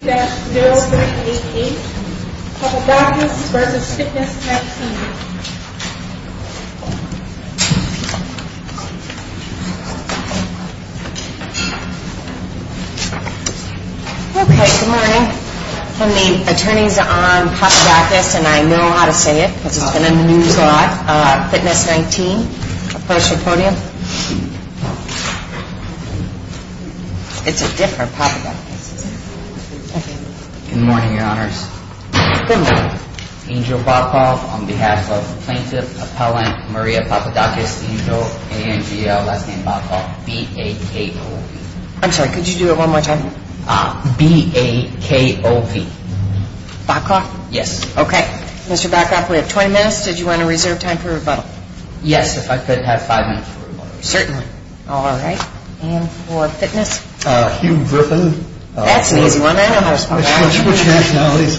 Okay, good morning. I'm the attorneys on Papadakis and I know how to say it because it's been in the news a lot. Fitness 19, approach the podium. It's a different Papadakis. Good morning, your honors. Good morning. Angel Bacoff on behalf of plaintiff, appellant Maria Papadakis, Angel, A-N-G-L, last name Bacoff, B-A-K-O-V. I'm sorry, could you do it one more time? B-A-K-O-V. Bacoff? Yes. Okay. Mr. Bacoff, we have 20 minutes. Did you want to reserve time for rebuttal? Yes, if I could have five minutes for rebuttal. Certainly. All right. And for fitness? Hugh Griffin. That's an easy one. I know how to spell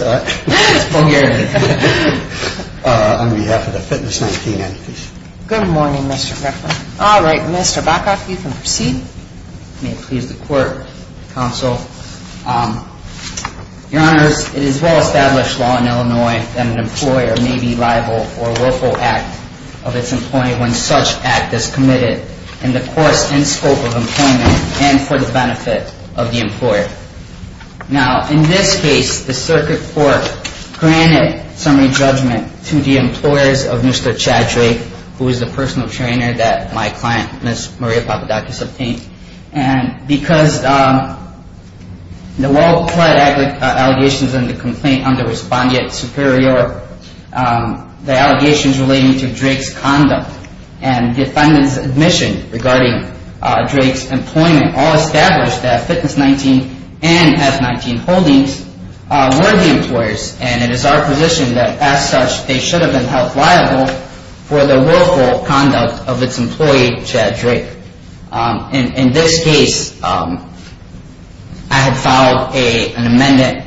that. On behalf of the Fitness 19 entities. Good morning, Mr. Griffin. All right. Mr. Bacoff, you can proceed. May it please the court, counsel. Your honors, it is well established law in Illinois that an employer may be liable for a willful act of its employee when such act is committed in the course and scope of employment and for the benefit of the employer. Now, in this case, the circuit court granted summary judgment to the employers of Mr. Chad Drake, who is the personal trainer that my client, Ms. Maria Papadakis, obtained. And because the well-plead allegations in the complaint under respondeat superior, the allegations relating to Drake's condom and defendant's admission regarding Drake's employment all establish that Fitness 19 is not liable for a willful act of its employee. And that Fitness 19 Holdings were the employers and it is our position that as such, they should have been held liable for the willful conduct of its employee, Chad Drake. In this case, I had filed an amended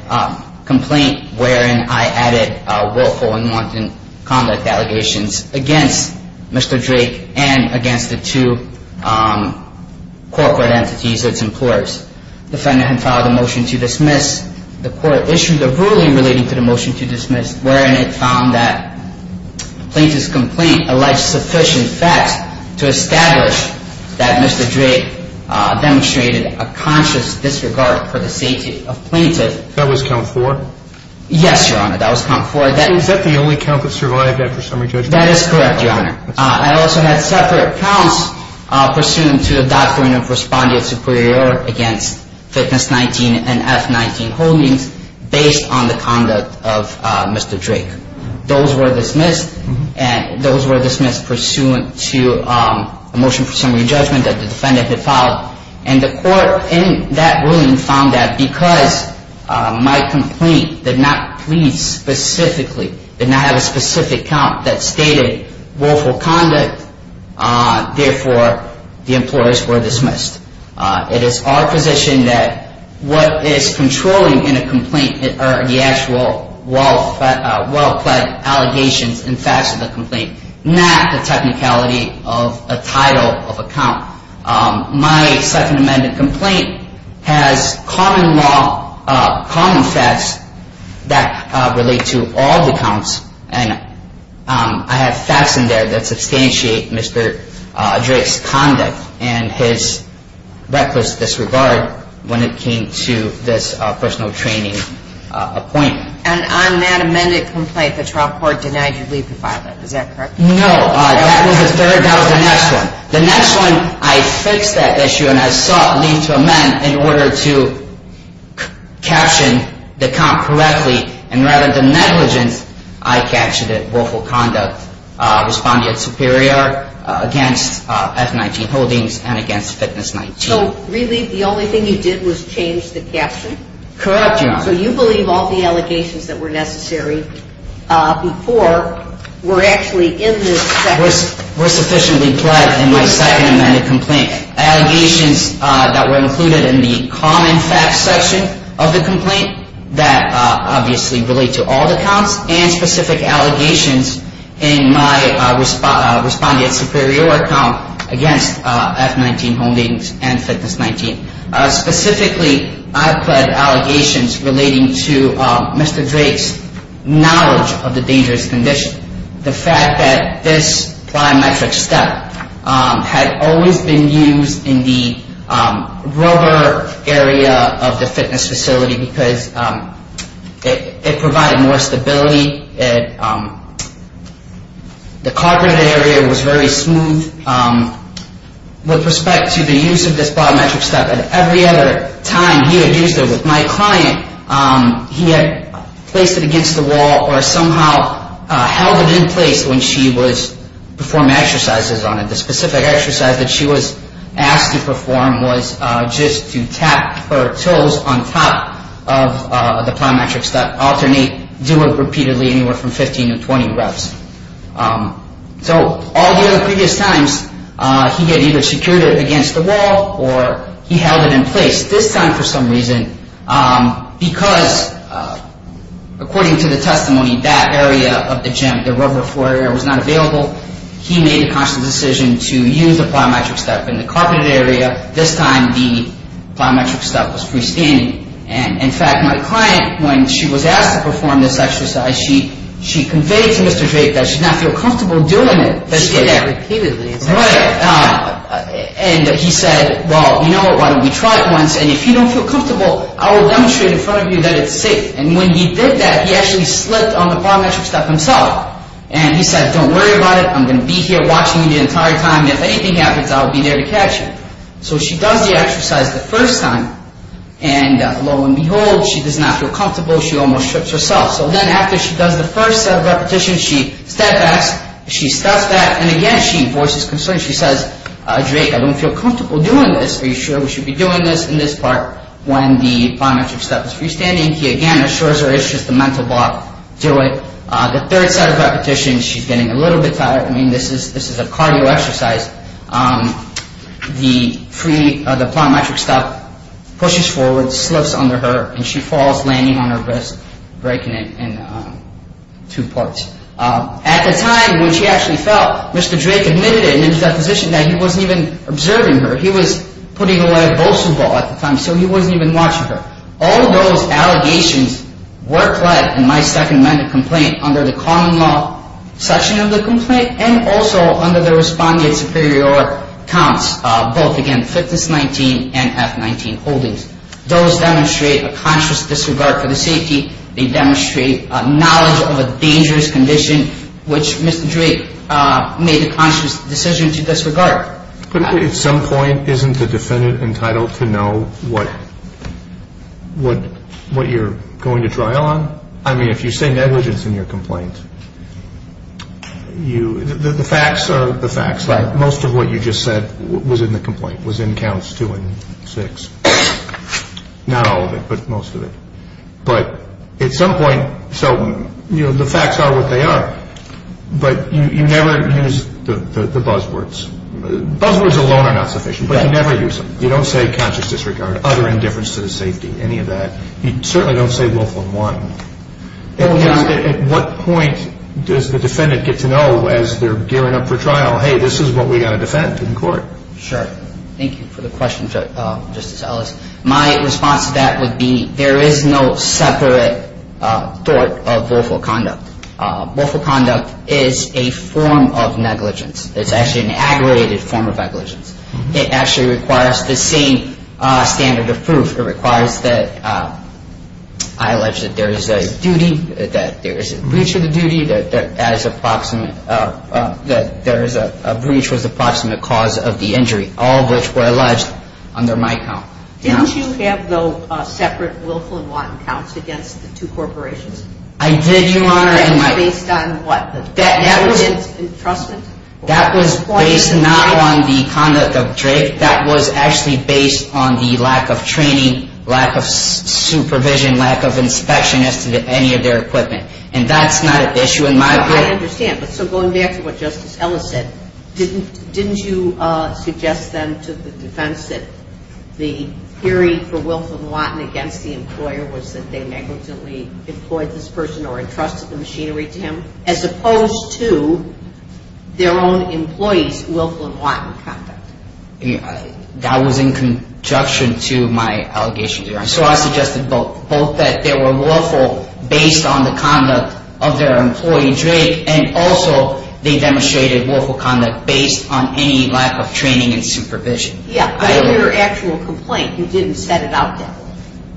complaint wherein I added willful and wanton conduct allegations against Mr. Drake and against the two corporate entities, its employers. The defendant had filed a motion to dismiss. The court issued a ruling relating to the motion to dismiss wherein it found that plaintiff's complaint alleged sufficient facts to establish that Mr. Drake demonstrated a conscious disregard for the safety of plaintiff. That was count four? Yes, your honor. That was count four. Is that the only count that survived after summary judgment? That is correct, your honor. I also had separate counts pursuant to the doctrine of respondeat superior against Fitness 19 and F19 Holdings based on the conduct of Mr. Drake. Those were dismissed and those were dismissed pursuant to a motion for summary judgment that the defendant had filed. And the court in that ruling found that because my complaint did not plead specifically, did not have a specific count that stated willful conduct, therefore, the employers were dismissed. It is our position that what is controlling in a complaint are the actual well-plead allegations and facts of the complaint, not the technicality of a title of a count. My second amended complaint has common law, common facts that relate to all the counts and I have facts in there that substantiate Mr. Drake's conduct and his reckless disregard when it came to this personal training appointment. And on that amended complaint, the trial court denied you leave to file it. Is that correct? No, that was the third, that was the next one. The next one, I fixed that issue and I sought leave to amend in order to caption the count correctly and rather than negligence, I captioned it willful conduct, respondeat superior against F19 Holdings and against Fitness 19. So really the only thing you did was change the caption? Correct, your honor. So you believe all the allegations that were necessary before were actually in this section? Mr. Drake's knowledge of the dangerous condition, the fact that this biometric step had always been used in the rubber area of the fitness facility because it provided more stability. The carpet area was very smooth. With respect to the use of this biometric step, at every other time he had used it with my client, he had placed it against the wall or somehow held it in place when she was performing exercises on it. The specific exercise that she was asked to perform was just to tap her toes on top of the biometric step, alternate, do it repeatedly anywhere from 15 to 20 reps. So all the other previous times, he had either secured it against the wall or he held it in place. This time for some reason, because according to the testimony, that area of the gym, the rubber floor area was not available, he made the conscious decision to use the biometric step in the carpeted area. This time the biometric step was freestanding. In fact, my client, when she was asked to perform this exercise, she conveyed to Mr. Drake that she did not feel comfortable doing it. She did that repeatedly. Right. And he said, well, you know what, why don't we try it once and if you don't feel comfortable, I will demonstrate in front of you that it's safe. And when he did that, he actually slipped on the biometric step himself. And he said, don't worry about it, I'm going to be here watching you the entire time and if anything happens, I'll be there to catch you. So she does the exercise the first time and lo and behold, she does not feel comfortable, she almost trips herself. So then after she does the first set of repetitions, she steps back, she steps back, and again, she enforces concerns. She says, Drake, I don't feel comfortable doing this. Are you sure we should be doing this in this part when the biometric step is freestanding? He again assures her it's just a mental block. Do it. The third set of repetitions, she's getting a little bit tired. I mean, this is a cardio exercise. The biometric step pushes forward, slips under her, and she falls, landing on her wrist, breaking it in two parts. At the time when she actually fell, Mr. Drake admitted it in his deposition that he wasn't even observing her. He was putting away a bowling ball at the time, so he wasn't even watching her. All those allegations were pled in my Second Amendment complaint under the common law section of the complaint and also under the respondent superior counts, both, again, FITNESS-19 and F-19 holdings. Those demonstrate a conscious disregard for the safety. They demonstrate knowledge of a dangerous condition, which Mr. Drake made a conscious decision to disregard. But at some point, isn't the defendant entitled to know what you're going to trial on? I mean, if you say negligence in your complaint, the facts are the facts. Most of what you just said was in the complaint, was in counts two and six. Not all of it, but most of it. But at some point, so the facts are what they are, but you never use the buzzwords. Buzzwords alone are not sufficient, but you never use them. You don't say conscious disregard, utter indifference to the safety, any of that. You certainly don't say willful and want. At what point does the defendant get to know as they're gearing up for trial, hey, this is what we've got to defend in court? Sure. Thank you for the question, Justice Ellis. My response to that would be there is no separate thought of willful conduct. Willful conduct is a form of negligence. It's actually an aggregated form of negligence. It actually requires the same standard of proof. It requires that I allege that there is a duty, that there is a breach of the duty, that there is a breach was the proximate cause of the injury, all of which were alleged under my count. Didn't you have, though, separate willful and want counts against the two corporations? I did, Your Honor. That was based on what, negligence, entrustment? That was based not on the conduct of Drake. That was actually based on the lack of training, lack of supervision, lack of inspection as to any of their equipment. And that's not an issue in my opinion. I understand. But so going back to what Justice Ellis said, didn't you suggest then to the defense that the theory for willful and wanton against the employer was that they negligently employed this person or entrusted the machinery to him, as opposed to their own employees' willful and wanton conduct? That was in conjunction to my allegations, Your Honor. So I suggested both that they were willful based on the conduct of their employee, Drake, and also they demonstrated willful conduct based on any lack of training and supervision. Yeah. But in your actual complaint, you didn't set it out that way.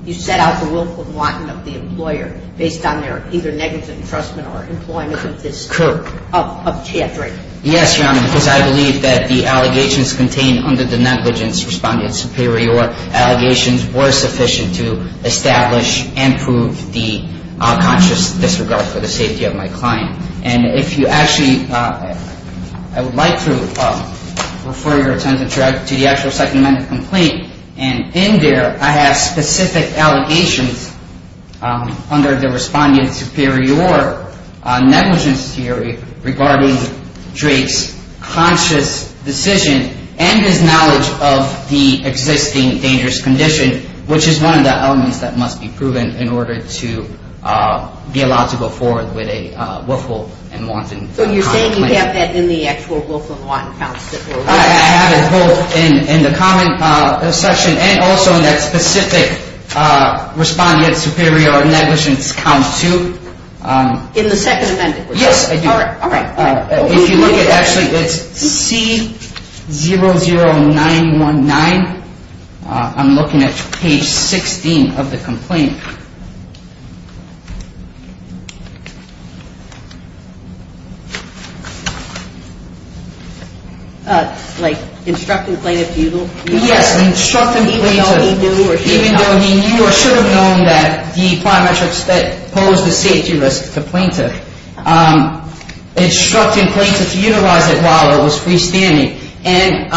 You set out the willful and wanton of the employer based on their either negligent entrustment or employment of Chad Drake. Yes, Your Honor, because I believe that the allegations contained under the negligence responded superior. Allegations were sufficient to establish and prove the conscious disregard for the safety of my client. And if you actually, I would like to refer your attention to the actual second amendment complaint. And in there, I have specific allegations under the responded superior negligence theory regarding Drake's conscious decision and his knowledge of the existing dangerous condition, which is one of the elements that must be proven in order to be allowed to go forward with a willful and wanton complaint. So you're saying you have that in the actual willful and wanton counts? I have it both in the comment section and also in that specific responded superior negligence count 2. In the second amendment? Yes, I do. All right. If you look at actually, it's C00919. I'm looking at page 16 of the complaint. Like instructing plaintiff to use the willful and wanton? Yes, instructing plaintiff. Even though he knew or should have known? Even though he knew or should have known that the parametrics that pose the safety risk to plaintiff. Instructing plaintiff to utilize it while it was freestanding. And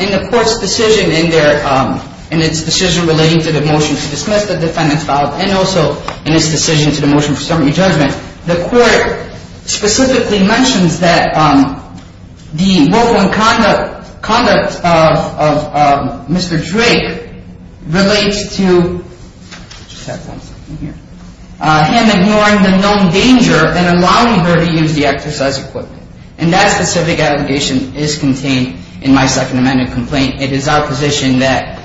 in the court's decision in its decision relating to the motion to dismiss the defendant's file and also in its decision to the motion for subpoena judgment, the court specifically mentions that the willful and wanton conduct of Mr. Drake relates to him ignoring the known danger and allowing her to use the exercise equipment. And that specific allegation is contained in my second amendment complaint. It is our position that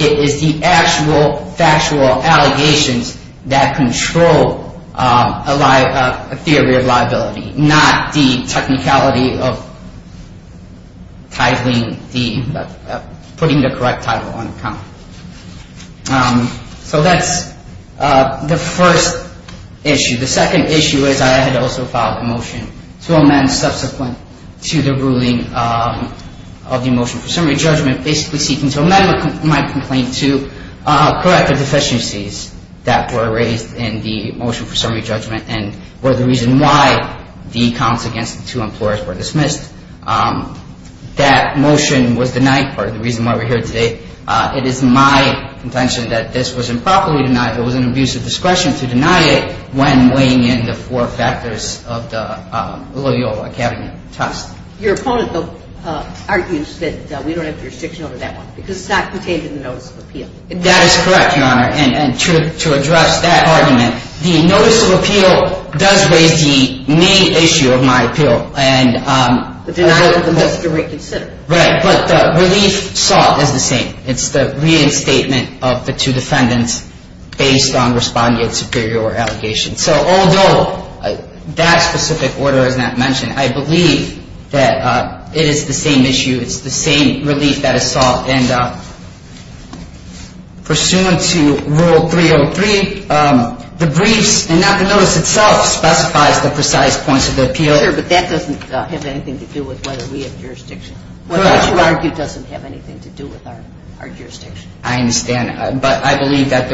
it is the actual factual allegations that control a theory of liability, not the technicality of putting the correct title on account. So that's the first issue. The second issue is I had also filed a motion to amend subsequent to the ruling of the motion for summary judgment, basically seeking to amend my complaint to correct the deficiencies that were raised in the motion for summary judgment and were the reason why the counts against the two employers were dismissed. That motion was denied. Part of the reason why we're here today. The second issue is I had also filed a motion to amend subsequent to the ruling of the motion for summary judgment, basically seeking to amend my complaint to correct the deficiencies that were raised in the motion for summary judgment. That motion was denied. The third issue is I had also filed a motion to amend subsequent to the ruling of the motion for summary judgment, basically seeking to amend my complaint to correct the deficiencies that were raised in the motion for summary judgment. That motion was denied. The fourth issue is I had also filed a motion to amend subsequent to the ruling of the motion for summary judgment, basically seeking to amend my complaint to correct the deficiencies that were raised in the motion for summary judgment. The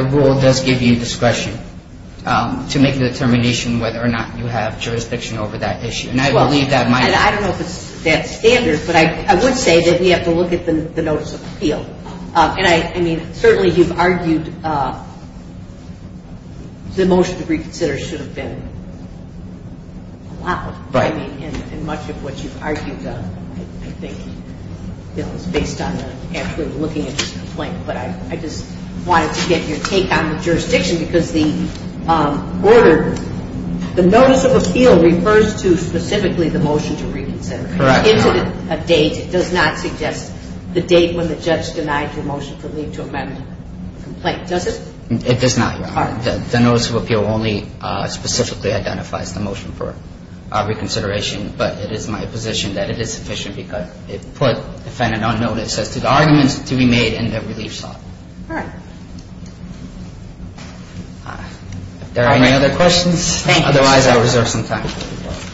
rule does give you discretion to make a determination whether or not you have jurisdiction over that issue. I don't know if it's that standard, but I would say that we have to look at the notice of appeal. Certainly, you've argued the motion to reconsider should have been allowed. Much of what you've argued, I think, is based on actually looking at your complaint. But I just wanted to get your take on the jurisdiction because the order, the notice of appeal refers to specifically the motion to reconsider. Correct. It's a date. It does not suggest the date when the judge denied your motion to leave to amend the complaint, does it? It does not, Your Honor. The notice of appeal only specifically identifies the motion for reconsideration. I'm not saying that it is sufficient, but it is my position that it is sufficient because it put defendant on notice as to the arguments to be made and that relief sought. All right. Are there any other questions? Thank you. Otherwise, I'll reserve some time.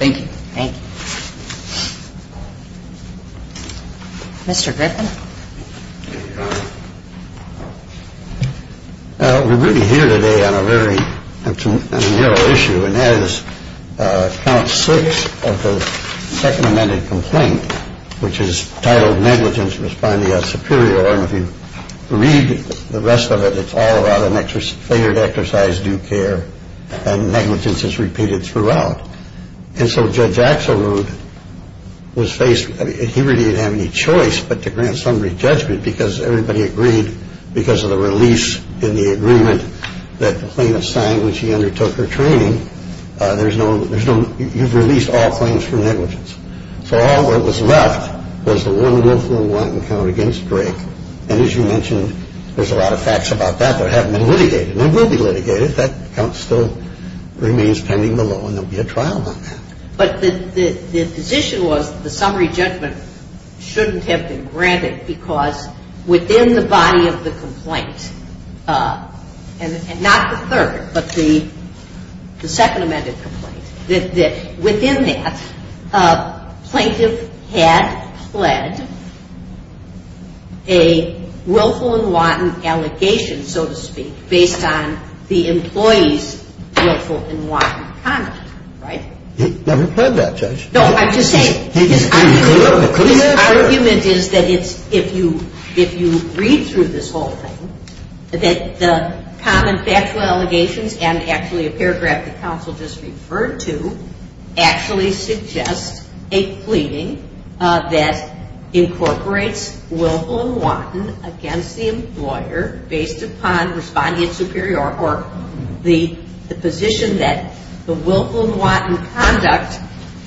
Thank you. Thank you. Mr. Griffin. Thank you, Your Honor. We're really here today on a very narrow issue, and that is count six of the second amended complaint, which is titled Negligence Responding at Superior. And if you read the rest of it, it's all about an exercise, failure to exercise due care. And negligence is repeated throughout. And so Judge Axelrod was faced. I mean, he really didn't have any choice but to grant summary judgment because everybody agreed because of the release in the agreement that the plaintiff signed when she undertook her training. There's no, you've released all claims for negligence. So all that was left was the one willful and wanton count against Drake. And as you mentioned, there's a lot of facts about that that haven't been litigated and will be litigated if that count still remains pending below, and there will be a trial on that. But the position was that the summary judgment shouldn't have been granted because within the body of the complaint, and not the third, but the second amended complaint, that within that, plaintiff had pled a willful and wanton allegation, so to speak, based on the employee's willful and wanton conduct, right? He never said that, Judge. No, I'm just saying his argument is that if you read through this whole thing, that the common factual allegations and actually a paragraph the counsel just referred to actually suggest a pleading that incorporates willful and wanton against the employer based upon respondent superior or the position that the willful and wanton conduct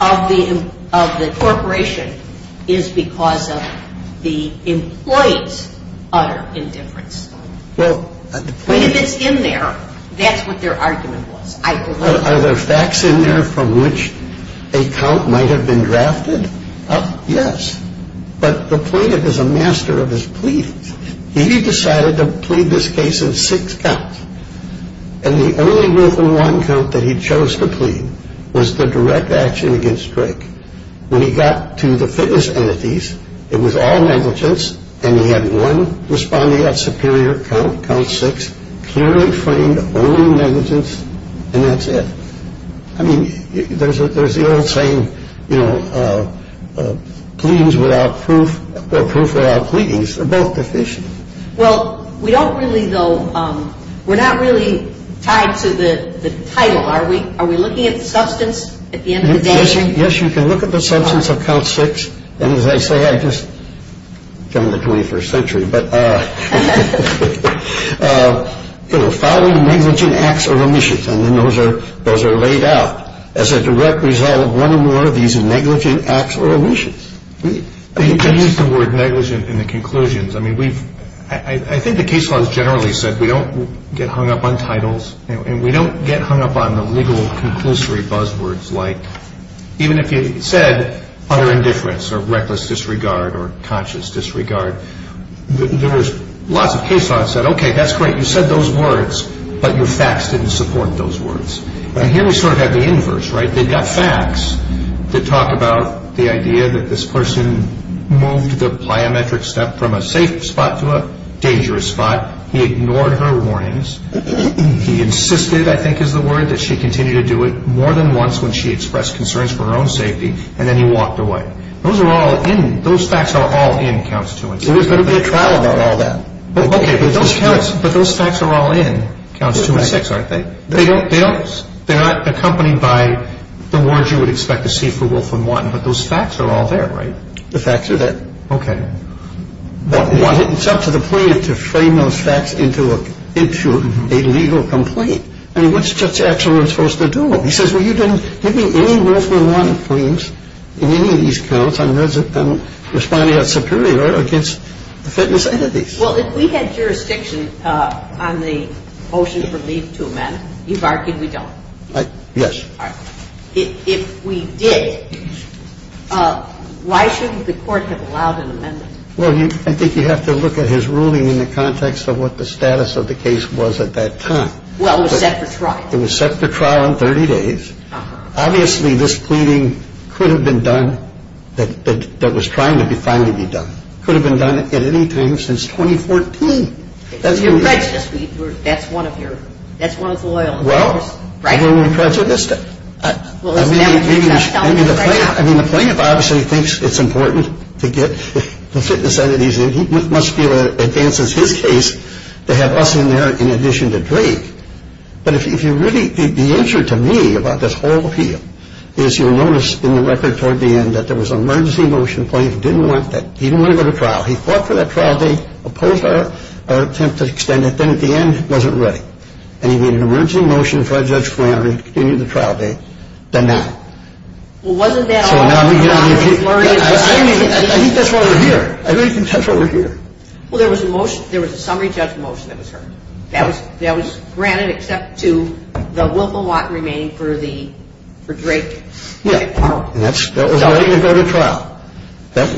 of the corporation is because of the employee's utter indifference. But if it's in there, that's what their argument was, I believe. Are there facts in there from which a count might have been drafted? Yes. But the plaintiff is a master of his pleadings. He decided to plead this case in six counts, and the only willful and wanton count that he chose to plead was the direct action against Drake. When he got to the fitness entities, it was all negligence, and he had one respondent superior count, count six, clearly framed only negligence, and that's it. I mean, there's the old saying, you know, pleadings without proof or proof without pleadings are both deficient. Well, we don't really, though, we're not really tied to the title. Are we looking at the substance at the end of the day? Yes, you can look at the substance of count six, and as I say, I just come in the 21st century. But, you know, following negligent acts or omissions, and then those are laid out as a direct result of one or more of these negligent acts or omissions. You used the word negligent in the conclusions. I mean, I think the case law has generally said we don't get hung up on titles, and we don't get hung up on the legal conclusory buzzwords like, even if you said utter indifference or reckless disregard or conscious disregard, there was lots of case law that said, okay, that's great, you said those words, but your facts didn't support those words. And here we sort of have the inverse, right? They've got facts that talk about the idea that this person moved the plyometric step from a safe spot to a dangerous spot. He ignored her warnings. He insisted, I think is the word, that she continue to do it more than once when she expressed concerns for her own safety, and then he walked away. Those are all in. Those facts are all in Counts 2 and 6. There was going to be a trial about all that. Okay, but those facts are all in Counts 2 and 6, aren't they? They don't. They're not accompanied by the words you would expect to see for Wolfram One, but those facts are all there, right? The facts are there. Okay. It's up to the plaintiff to frame those facts into a legal complaint. I mean, what's Judge Axelrod supposed to do? He says, well, you didn't give me any Wolfram One claims in any of these counts. I'm responding as superior against the fitness entities. Well, if we had jurisdiction on the motion for leave to amend, you've argued we don't. Yes. All right. If we did, why shouldn't the Court have allowed an amendment? Well, I think you have to look at his ruling in the context of what the status of the case was at that time. Well, it was set for trial. It was set for trial in 30 days. Obviously, this pleading could have been done that was trying to finally be done. It could have been done at any time since 2014. You're prejudiced. That's one of your loyalties. Well, I'm only prejudiced. I mean, the plaintiff obviously thinks it's important to get the fitness entities in. He must be able to advance his case to have us in there in addition to Drake. But if you really – the answer to me about this whole appeal is you'll notice in the record toward the end that there was an emergency motion. The plaintiff didn't want that. He didn't want to go to trial. He fought for that trial date, opposed our attempt to extend it. Then, at the end, it wasn't ready. And he made an emergency motion for Judge Flannery to continue the trial date, then not. Well, wasn't that all? I think that's why we're here. I think that's why we're here. Well, there was a motion. There was a summary judge motion that was heard. That was granted except to the Wilma Watt remaining for Drake. Yeah. And that was ready to go to trial.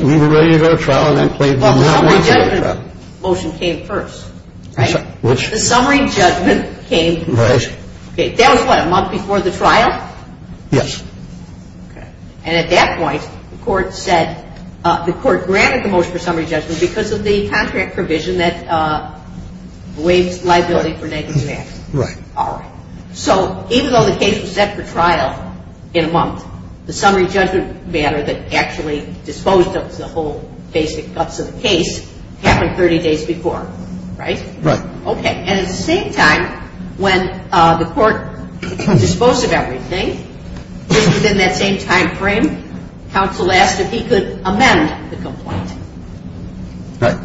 We were ready to go to trial, and that plaintiff did not want to go to trial. Well, the summary judgment motion came first, right? Which? The summary judgment came first. Right. Okay. That was, what, a month before the trial? Yes. Okay. And at that point, the court said – the court granted the motion for summary judgment because of the contract provision that waives liability for negative action. Right. All right. So even though the case was set for trial in a month, the summary judgment matter that actually disposed of the whole basic guts of the case happened 30 days before, right? Right. Okay. And at the same time, when the court disposed of everything, within that same time frame, counsel asked if he could amend the complaint. Right.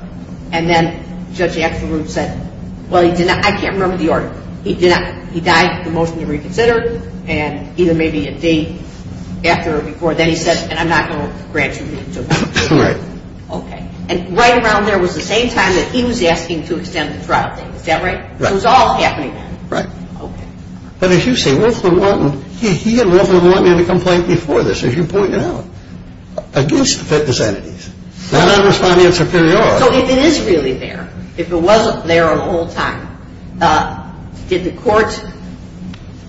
And then Judge Axelruth said, well, he did not – I can't remember the order. He did not – he died with the motion to reconsider, and either maybe a day after or before, then he said, and I'm not going to grant you – Right. Okay. And right around there was the same time that he was asking to extend the trial date. Is that right? Right. So it was all happening then. Right. Okay. But as you say, Wolfman wanted – he and Wolfman wanted a complaint before this, as you pointed out, against the fitness entities, not on responding in superiority. So if it is really there, if it wasn't there the whole time, did the court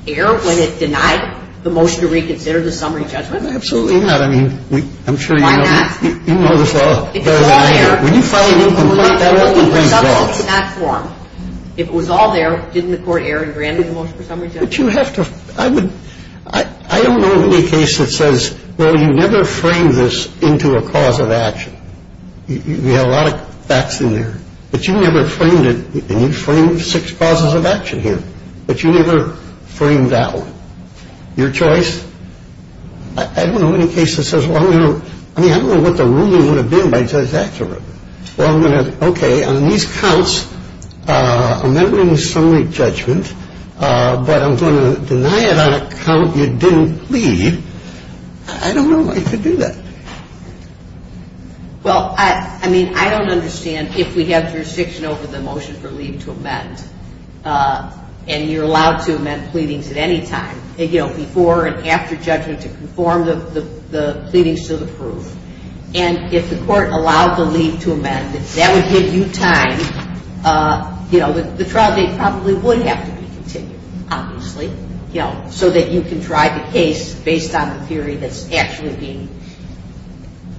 err when it denied the motion to reconsider the summary judgment? Absolutely not. I mean, I'm sure you know – You know this law better than I do. When you file a new complaint, that often brings faults. If it was all there, didn't the court err and grant the motion for summary judgment? But you have to – I would – I don't know of any case that says, well, you never framed this into a cause of action. We have a lot of facts in there. But you never framed it, and you framed six causes of action here. But you never framed that one. Your choice? I don't know of any case that says, well, I'm going to – well, I'm going to – okay, on these counts, amending the summary judgment, but I'm going to deny it on a count you didn't plead. I don't know why you could do that. Well, I mean, I don't understand if we have jurisdiction over the motion for leave to amend, and you're allowed to amend pleadings at any time, you know, before and after judgment to conform the pleadings to the proof. And if the court allowed the leave to amend, if that would give you time, you know, the trial date probably would have to be continued, obviously, you know, so that you can drive a case based on a theory that's actually being,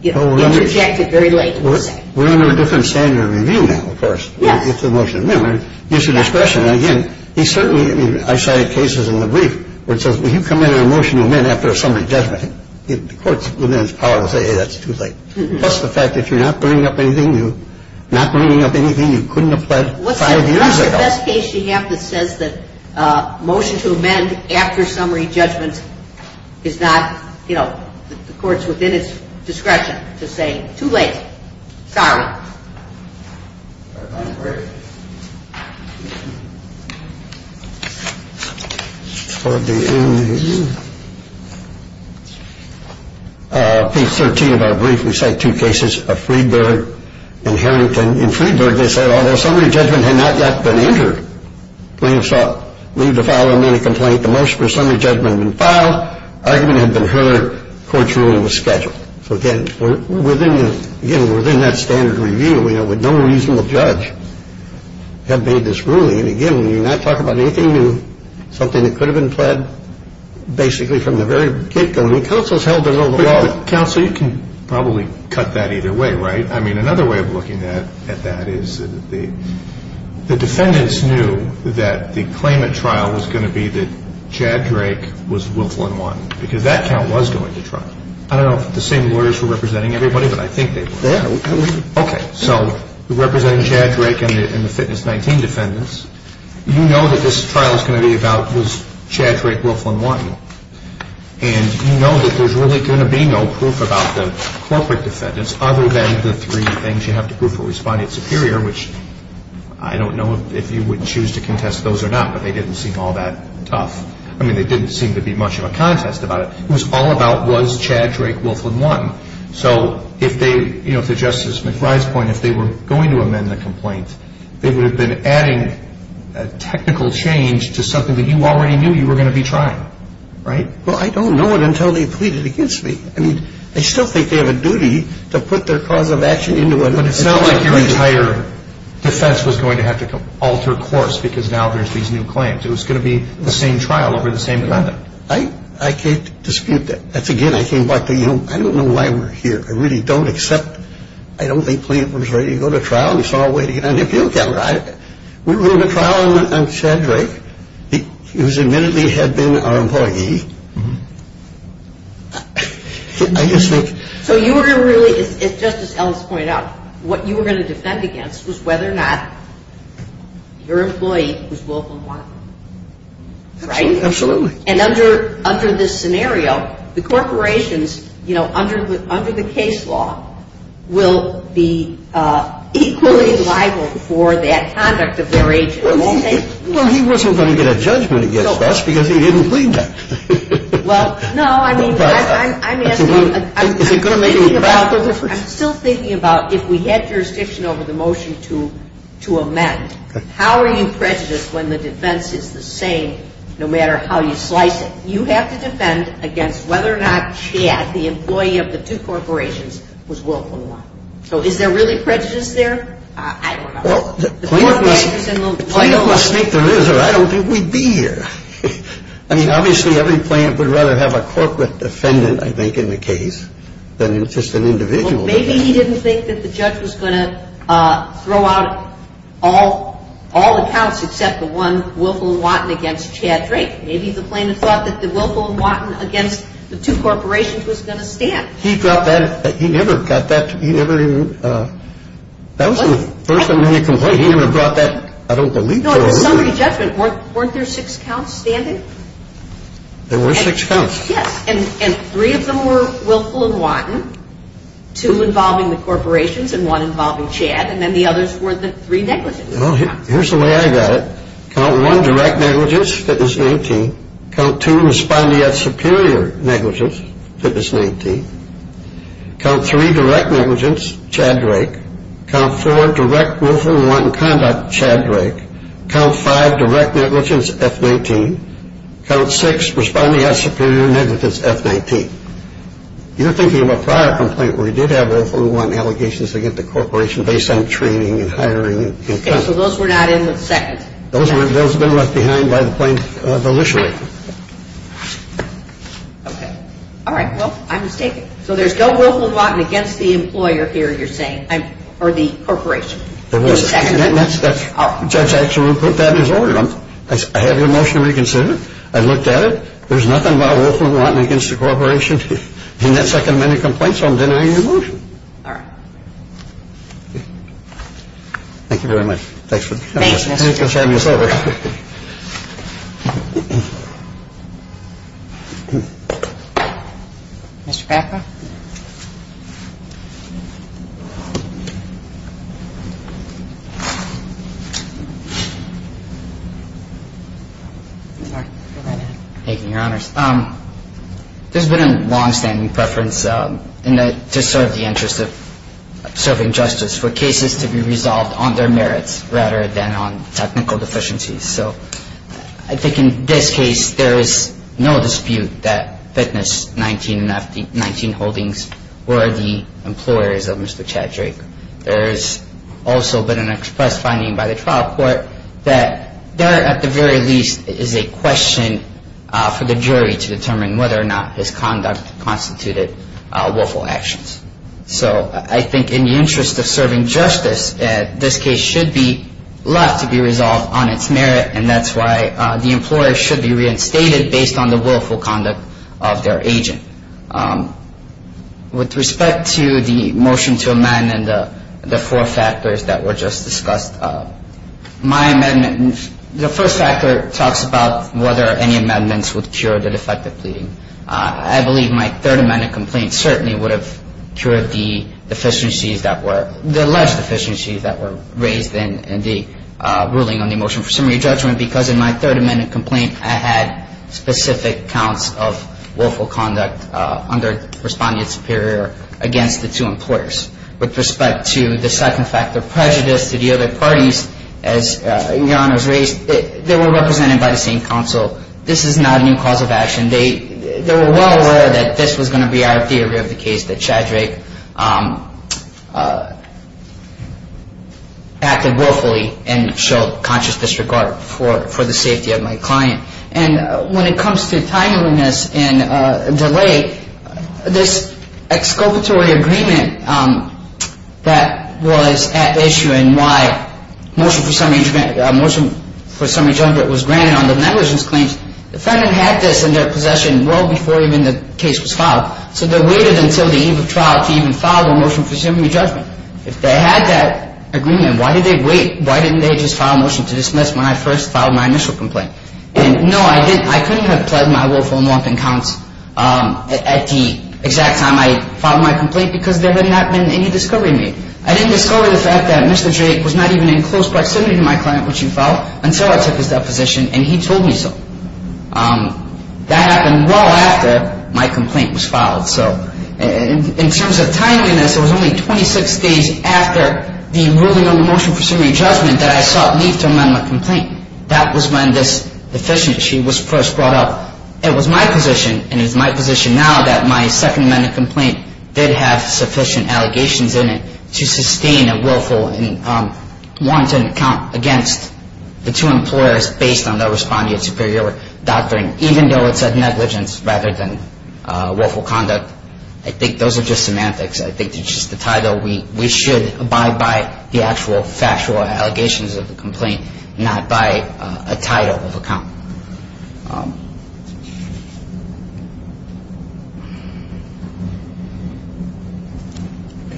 you know, interjected very late in the sentence. We're under a different standard of review now, of course. Yes. It's a motion to amend. It's an expression, and again, he certainly – I cited cases in the brief where it says, Well, you come in on a motion to amend after a summary judgment. The court's within its power to say, hey, that's too late. Plus the fact that if you're not bringing up anything, you're not bringing up anything you couldn't have pled five years ago. What's the best case you have that says that motion to amend after summary judgment is not, you know, the court's within its discretion to say, too late, sorry. All right. Page 13 of our brief, we cite two cases of Freedberg and Harrington. In Freedberg, they said, although summary judgment had not yet been entered, plaintiffs sought to leave the file and then a complaint. The motion for summary judgment had been filed. Argument had been heard. Court's ruling was scheduled. So, again, we're within the – again, we're within that standard review, you know, with no reasonable judge have made this ruling. And, again, when you're not talking about anything new, something that could have been pled basically from the very get-go, and the counsel's held to know the law. Counsel, you can probably cut that either way, right? I mean, another way of looking at that is the defendants knew that the claimant trial was going to be that Chad Drake was Wilflyn 1 because that count was going to trial. I don't know if the same lawyers were representing everybody, but I think they were. Yeah. Okay. So, representing Chad Drake and the Fitness 19 defendants, you know that this trial is going to be about was Chad Drake Wilflyn 1. And you know that there's really going to be no proof about the corporate defendants other than the three things you have to prove for respondent superior, which I don't know if you would choose to contest those or not, but they didn't seem all that tough. I mean, there didn't seem to be much of a contest about it. It was all about was Chad Drake Wilflyn 1. So, if they, you know, to Justice McBride's point, if they were going to amend the complaint, they would have been adding a technical change to something that you already knew you were going to be trying, right? Well, I don't know it until they pleaded against me. I mean, I still think they have a duty to put their cause of action into it. But it's not like your entire defense was going to have to alter course because now there's these new claims. It was going to be the same trial over the same defendant. I can't dispute that. Again, I came back to, you know, I don't know why we're here. I really don't, except I don't think Plaintiff was ready to go to trial and saw a way to get on the appeal calendar. We were going to trial on Chad Drake, who admittedly had been our employee. I just think. So, you were going to really, as Justice Ellis pointed out, what you were going to defend against was whether or not your employee was Wilflyn 1, right? Absolutely. And under this scenario, the corporations, you know, under the case law, will be equally liable for that conduct of their agent. Well, he wasn't going to get a judgment against us because he didn't plead them. Well, no, I mean, I'm asking. Is it going to make a radical difference? I'm still thinking about if we had jurisdiction over the motion to amend, how are you prejudiced when the defense is the same no matter how you slice it? You have to defend against whether or not Chad, the employee of the two corporations, was Wilflyn 1. So, is there really prejudice there? I don't know. Well, the plaintiff must think there is or I don't think we'd be here. I mean, obviously, every plaintiff would rather have a corporate defendant, I think, in the case than just an individual. Maybe he didn't think that the judge was going to throw out all the counts except the one, Wilflyn 1, against Chad Drake. Maybe the plaintiff thought that the Wilflyn 1 against the two corporations was going to stand. He never got that. That was the first time we had a complaint. He never brought that. I don't believe so. No, in the summary judgment, weren't there six counts standing? There were six counts. Yes. And three of them were Wilflyn 1, two involving the corporations and one involving Chad, and then the others were the three negligence counts. Well, here's the way I got it. Count 1, direct negligence, fitness 19. Count 2, responding at superior negligence, fitness 19. Count 3, direct negligence, Chad Drake. Count 4, direct Wilflyn 1 conduct, Chad Drake. Count 5, direct negligence, F19. Count 6, responding at superior negligence, F19. You're thinking of a prior complaint where he did have Wilflyn 1 allegations against the corporation based on training and hiring. Okay, so those were not in the second. Those have been left behind by the plaintiff, the litigator. Okay. All right, well, I'm mistaken. So there's no Wilflyn 1 against the employer here, you're saying, or the corporation. In the second. The judge actually put that in his order. I have your motion reconsidered. I've looked at it. There's nothing about Wilflyn 1 against the corporation in that second amendment complaint, so I'm denying your motion. All right. Thank you very much. Thanks for having us over. Mr. Packa. Thank you, Your Honors. There's been a longstanding preference to serve the interest of serving justice for cases to be resolved on their merits rather than on technical deficiencies. So I think in this case there is no dispute that Fitness 19 and 19 Holdings were the employers of Mr. Chad Drake. There has also been an express finding by the trial court that there, at the very least, is a question for the jury to determine whether or not his conduct constituted willful actions. So I think in the interest of serving justice, this case should be left to be resolved on its merit, and that's why the employer should be reinstated based on the willful conduct of their agent. With respect to the motion to amend and the four factors that were just discussed, my amendment, the first factor talks about whether any amendments would cure the defective pleading. I believe my third amendment complaint certainly would have cured the deficiencies that were, the alleged deficiencies that were raised in the ruling on the motion for summary judgment because in my third amendment complaint I had specific counts of willful conduct under Respondent Superior against the two employers. With respect to the second factor, prejudice to the other parties, as Your Honors raised, they were represented by the same counsel. This is not a new cause of action. They were well aware that this was going to be our theory of the case, that Chad Drake acted willfully and showed conscious disregard for the safety of my client. And when it comes to timeliness and delay, this exculpatory agreement that was at issue and why motion for summary judgment was granted on the negligence claims, the defendant had this in their possession well before even the case was filed, so they waited until the eve of trial to even file their motion for summary judgment. If they had that agreement, why did they wait? Why didn't they just file a motion to dismiss when I first filed my initial complaint? And no, I couldn't have pled my willful and wanton counts at the exact time I filed my complaint because there had not been any discovery made. I didn't discover the fact that Mr. Drake was not even in close proximity to my client when she filed until I took his deposition, and he told me so. That happened well after my complaint was filed. So in terms of timeliness, it was only 26 days after the ruling on the motion for summary judgment that I sought leave to amend my complaint. That was when this deficiency was first brought up. It was my position, and it's my position now, that my Second Amendment complaint did have sufficient allegations in it to sustain a willful and wanton count against the two employers based on their respondeat superior doctrine, even though it said negligence rather than willful conduct. I think those are just semantics. I think it's just the title. We should abide by the actual factual allegations of the complaint, not by a title of account.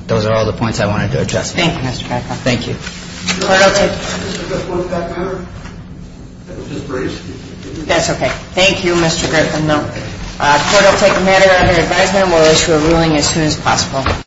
Those are all the points I wanted to address. Thank you, Mr. Griffin. Thank you. That's okay. Thank you, Mr. Griffin. The court will take the matter under advisement. We'll issue a ruling as soon as possible.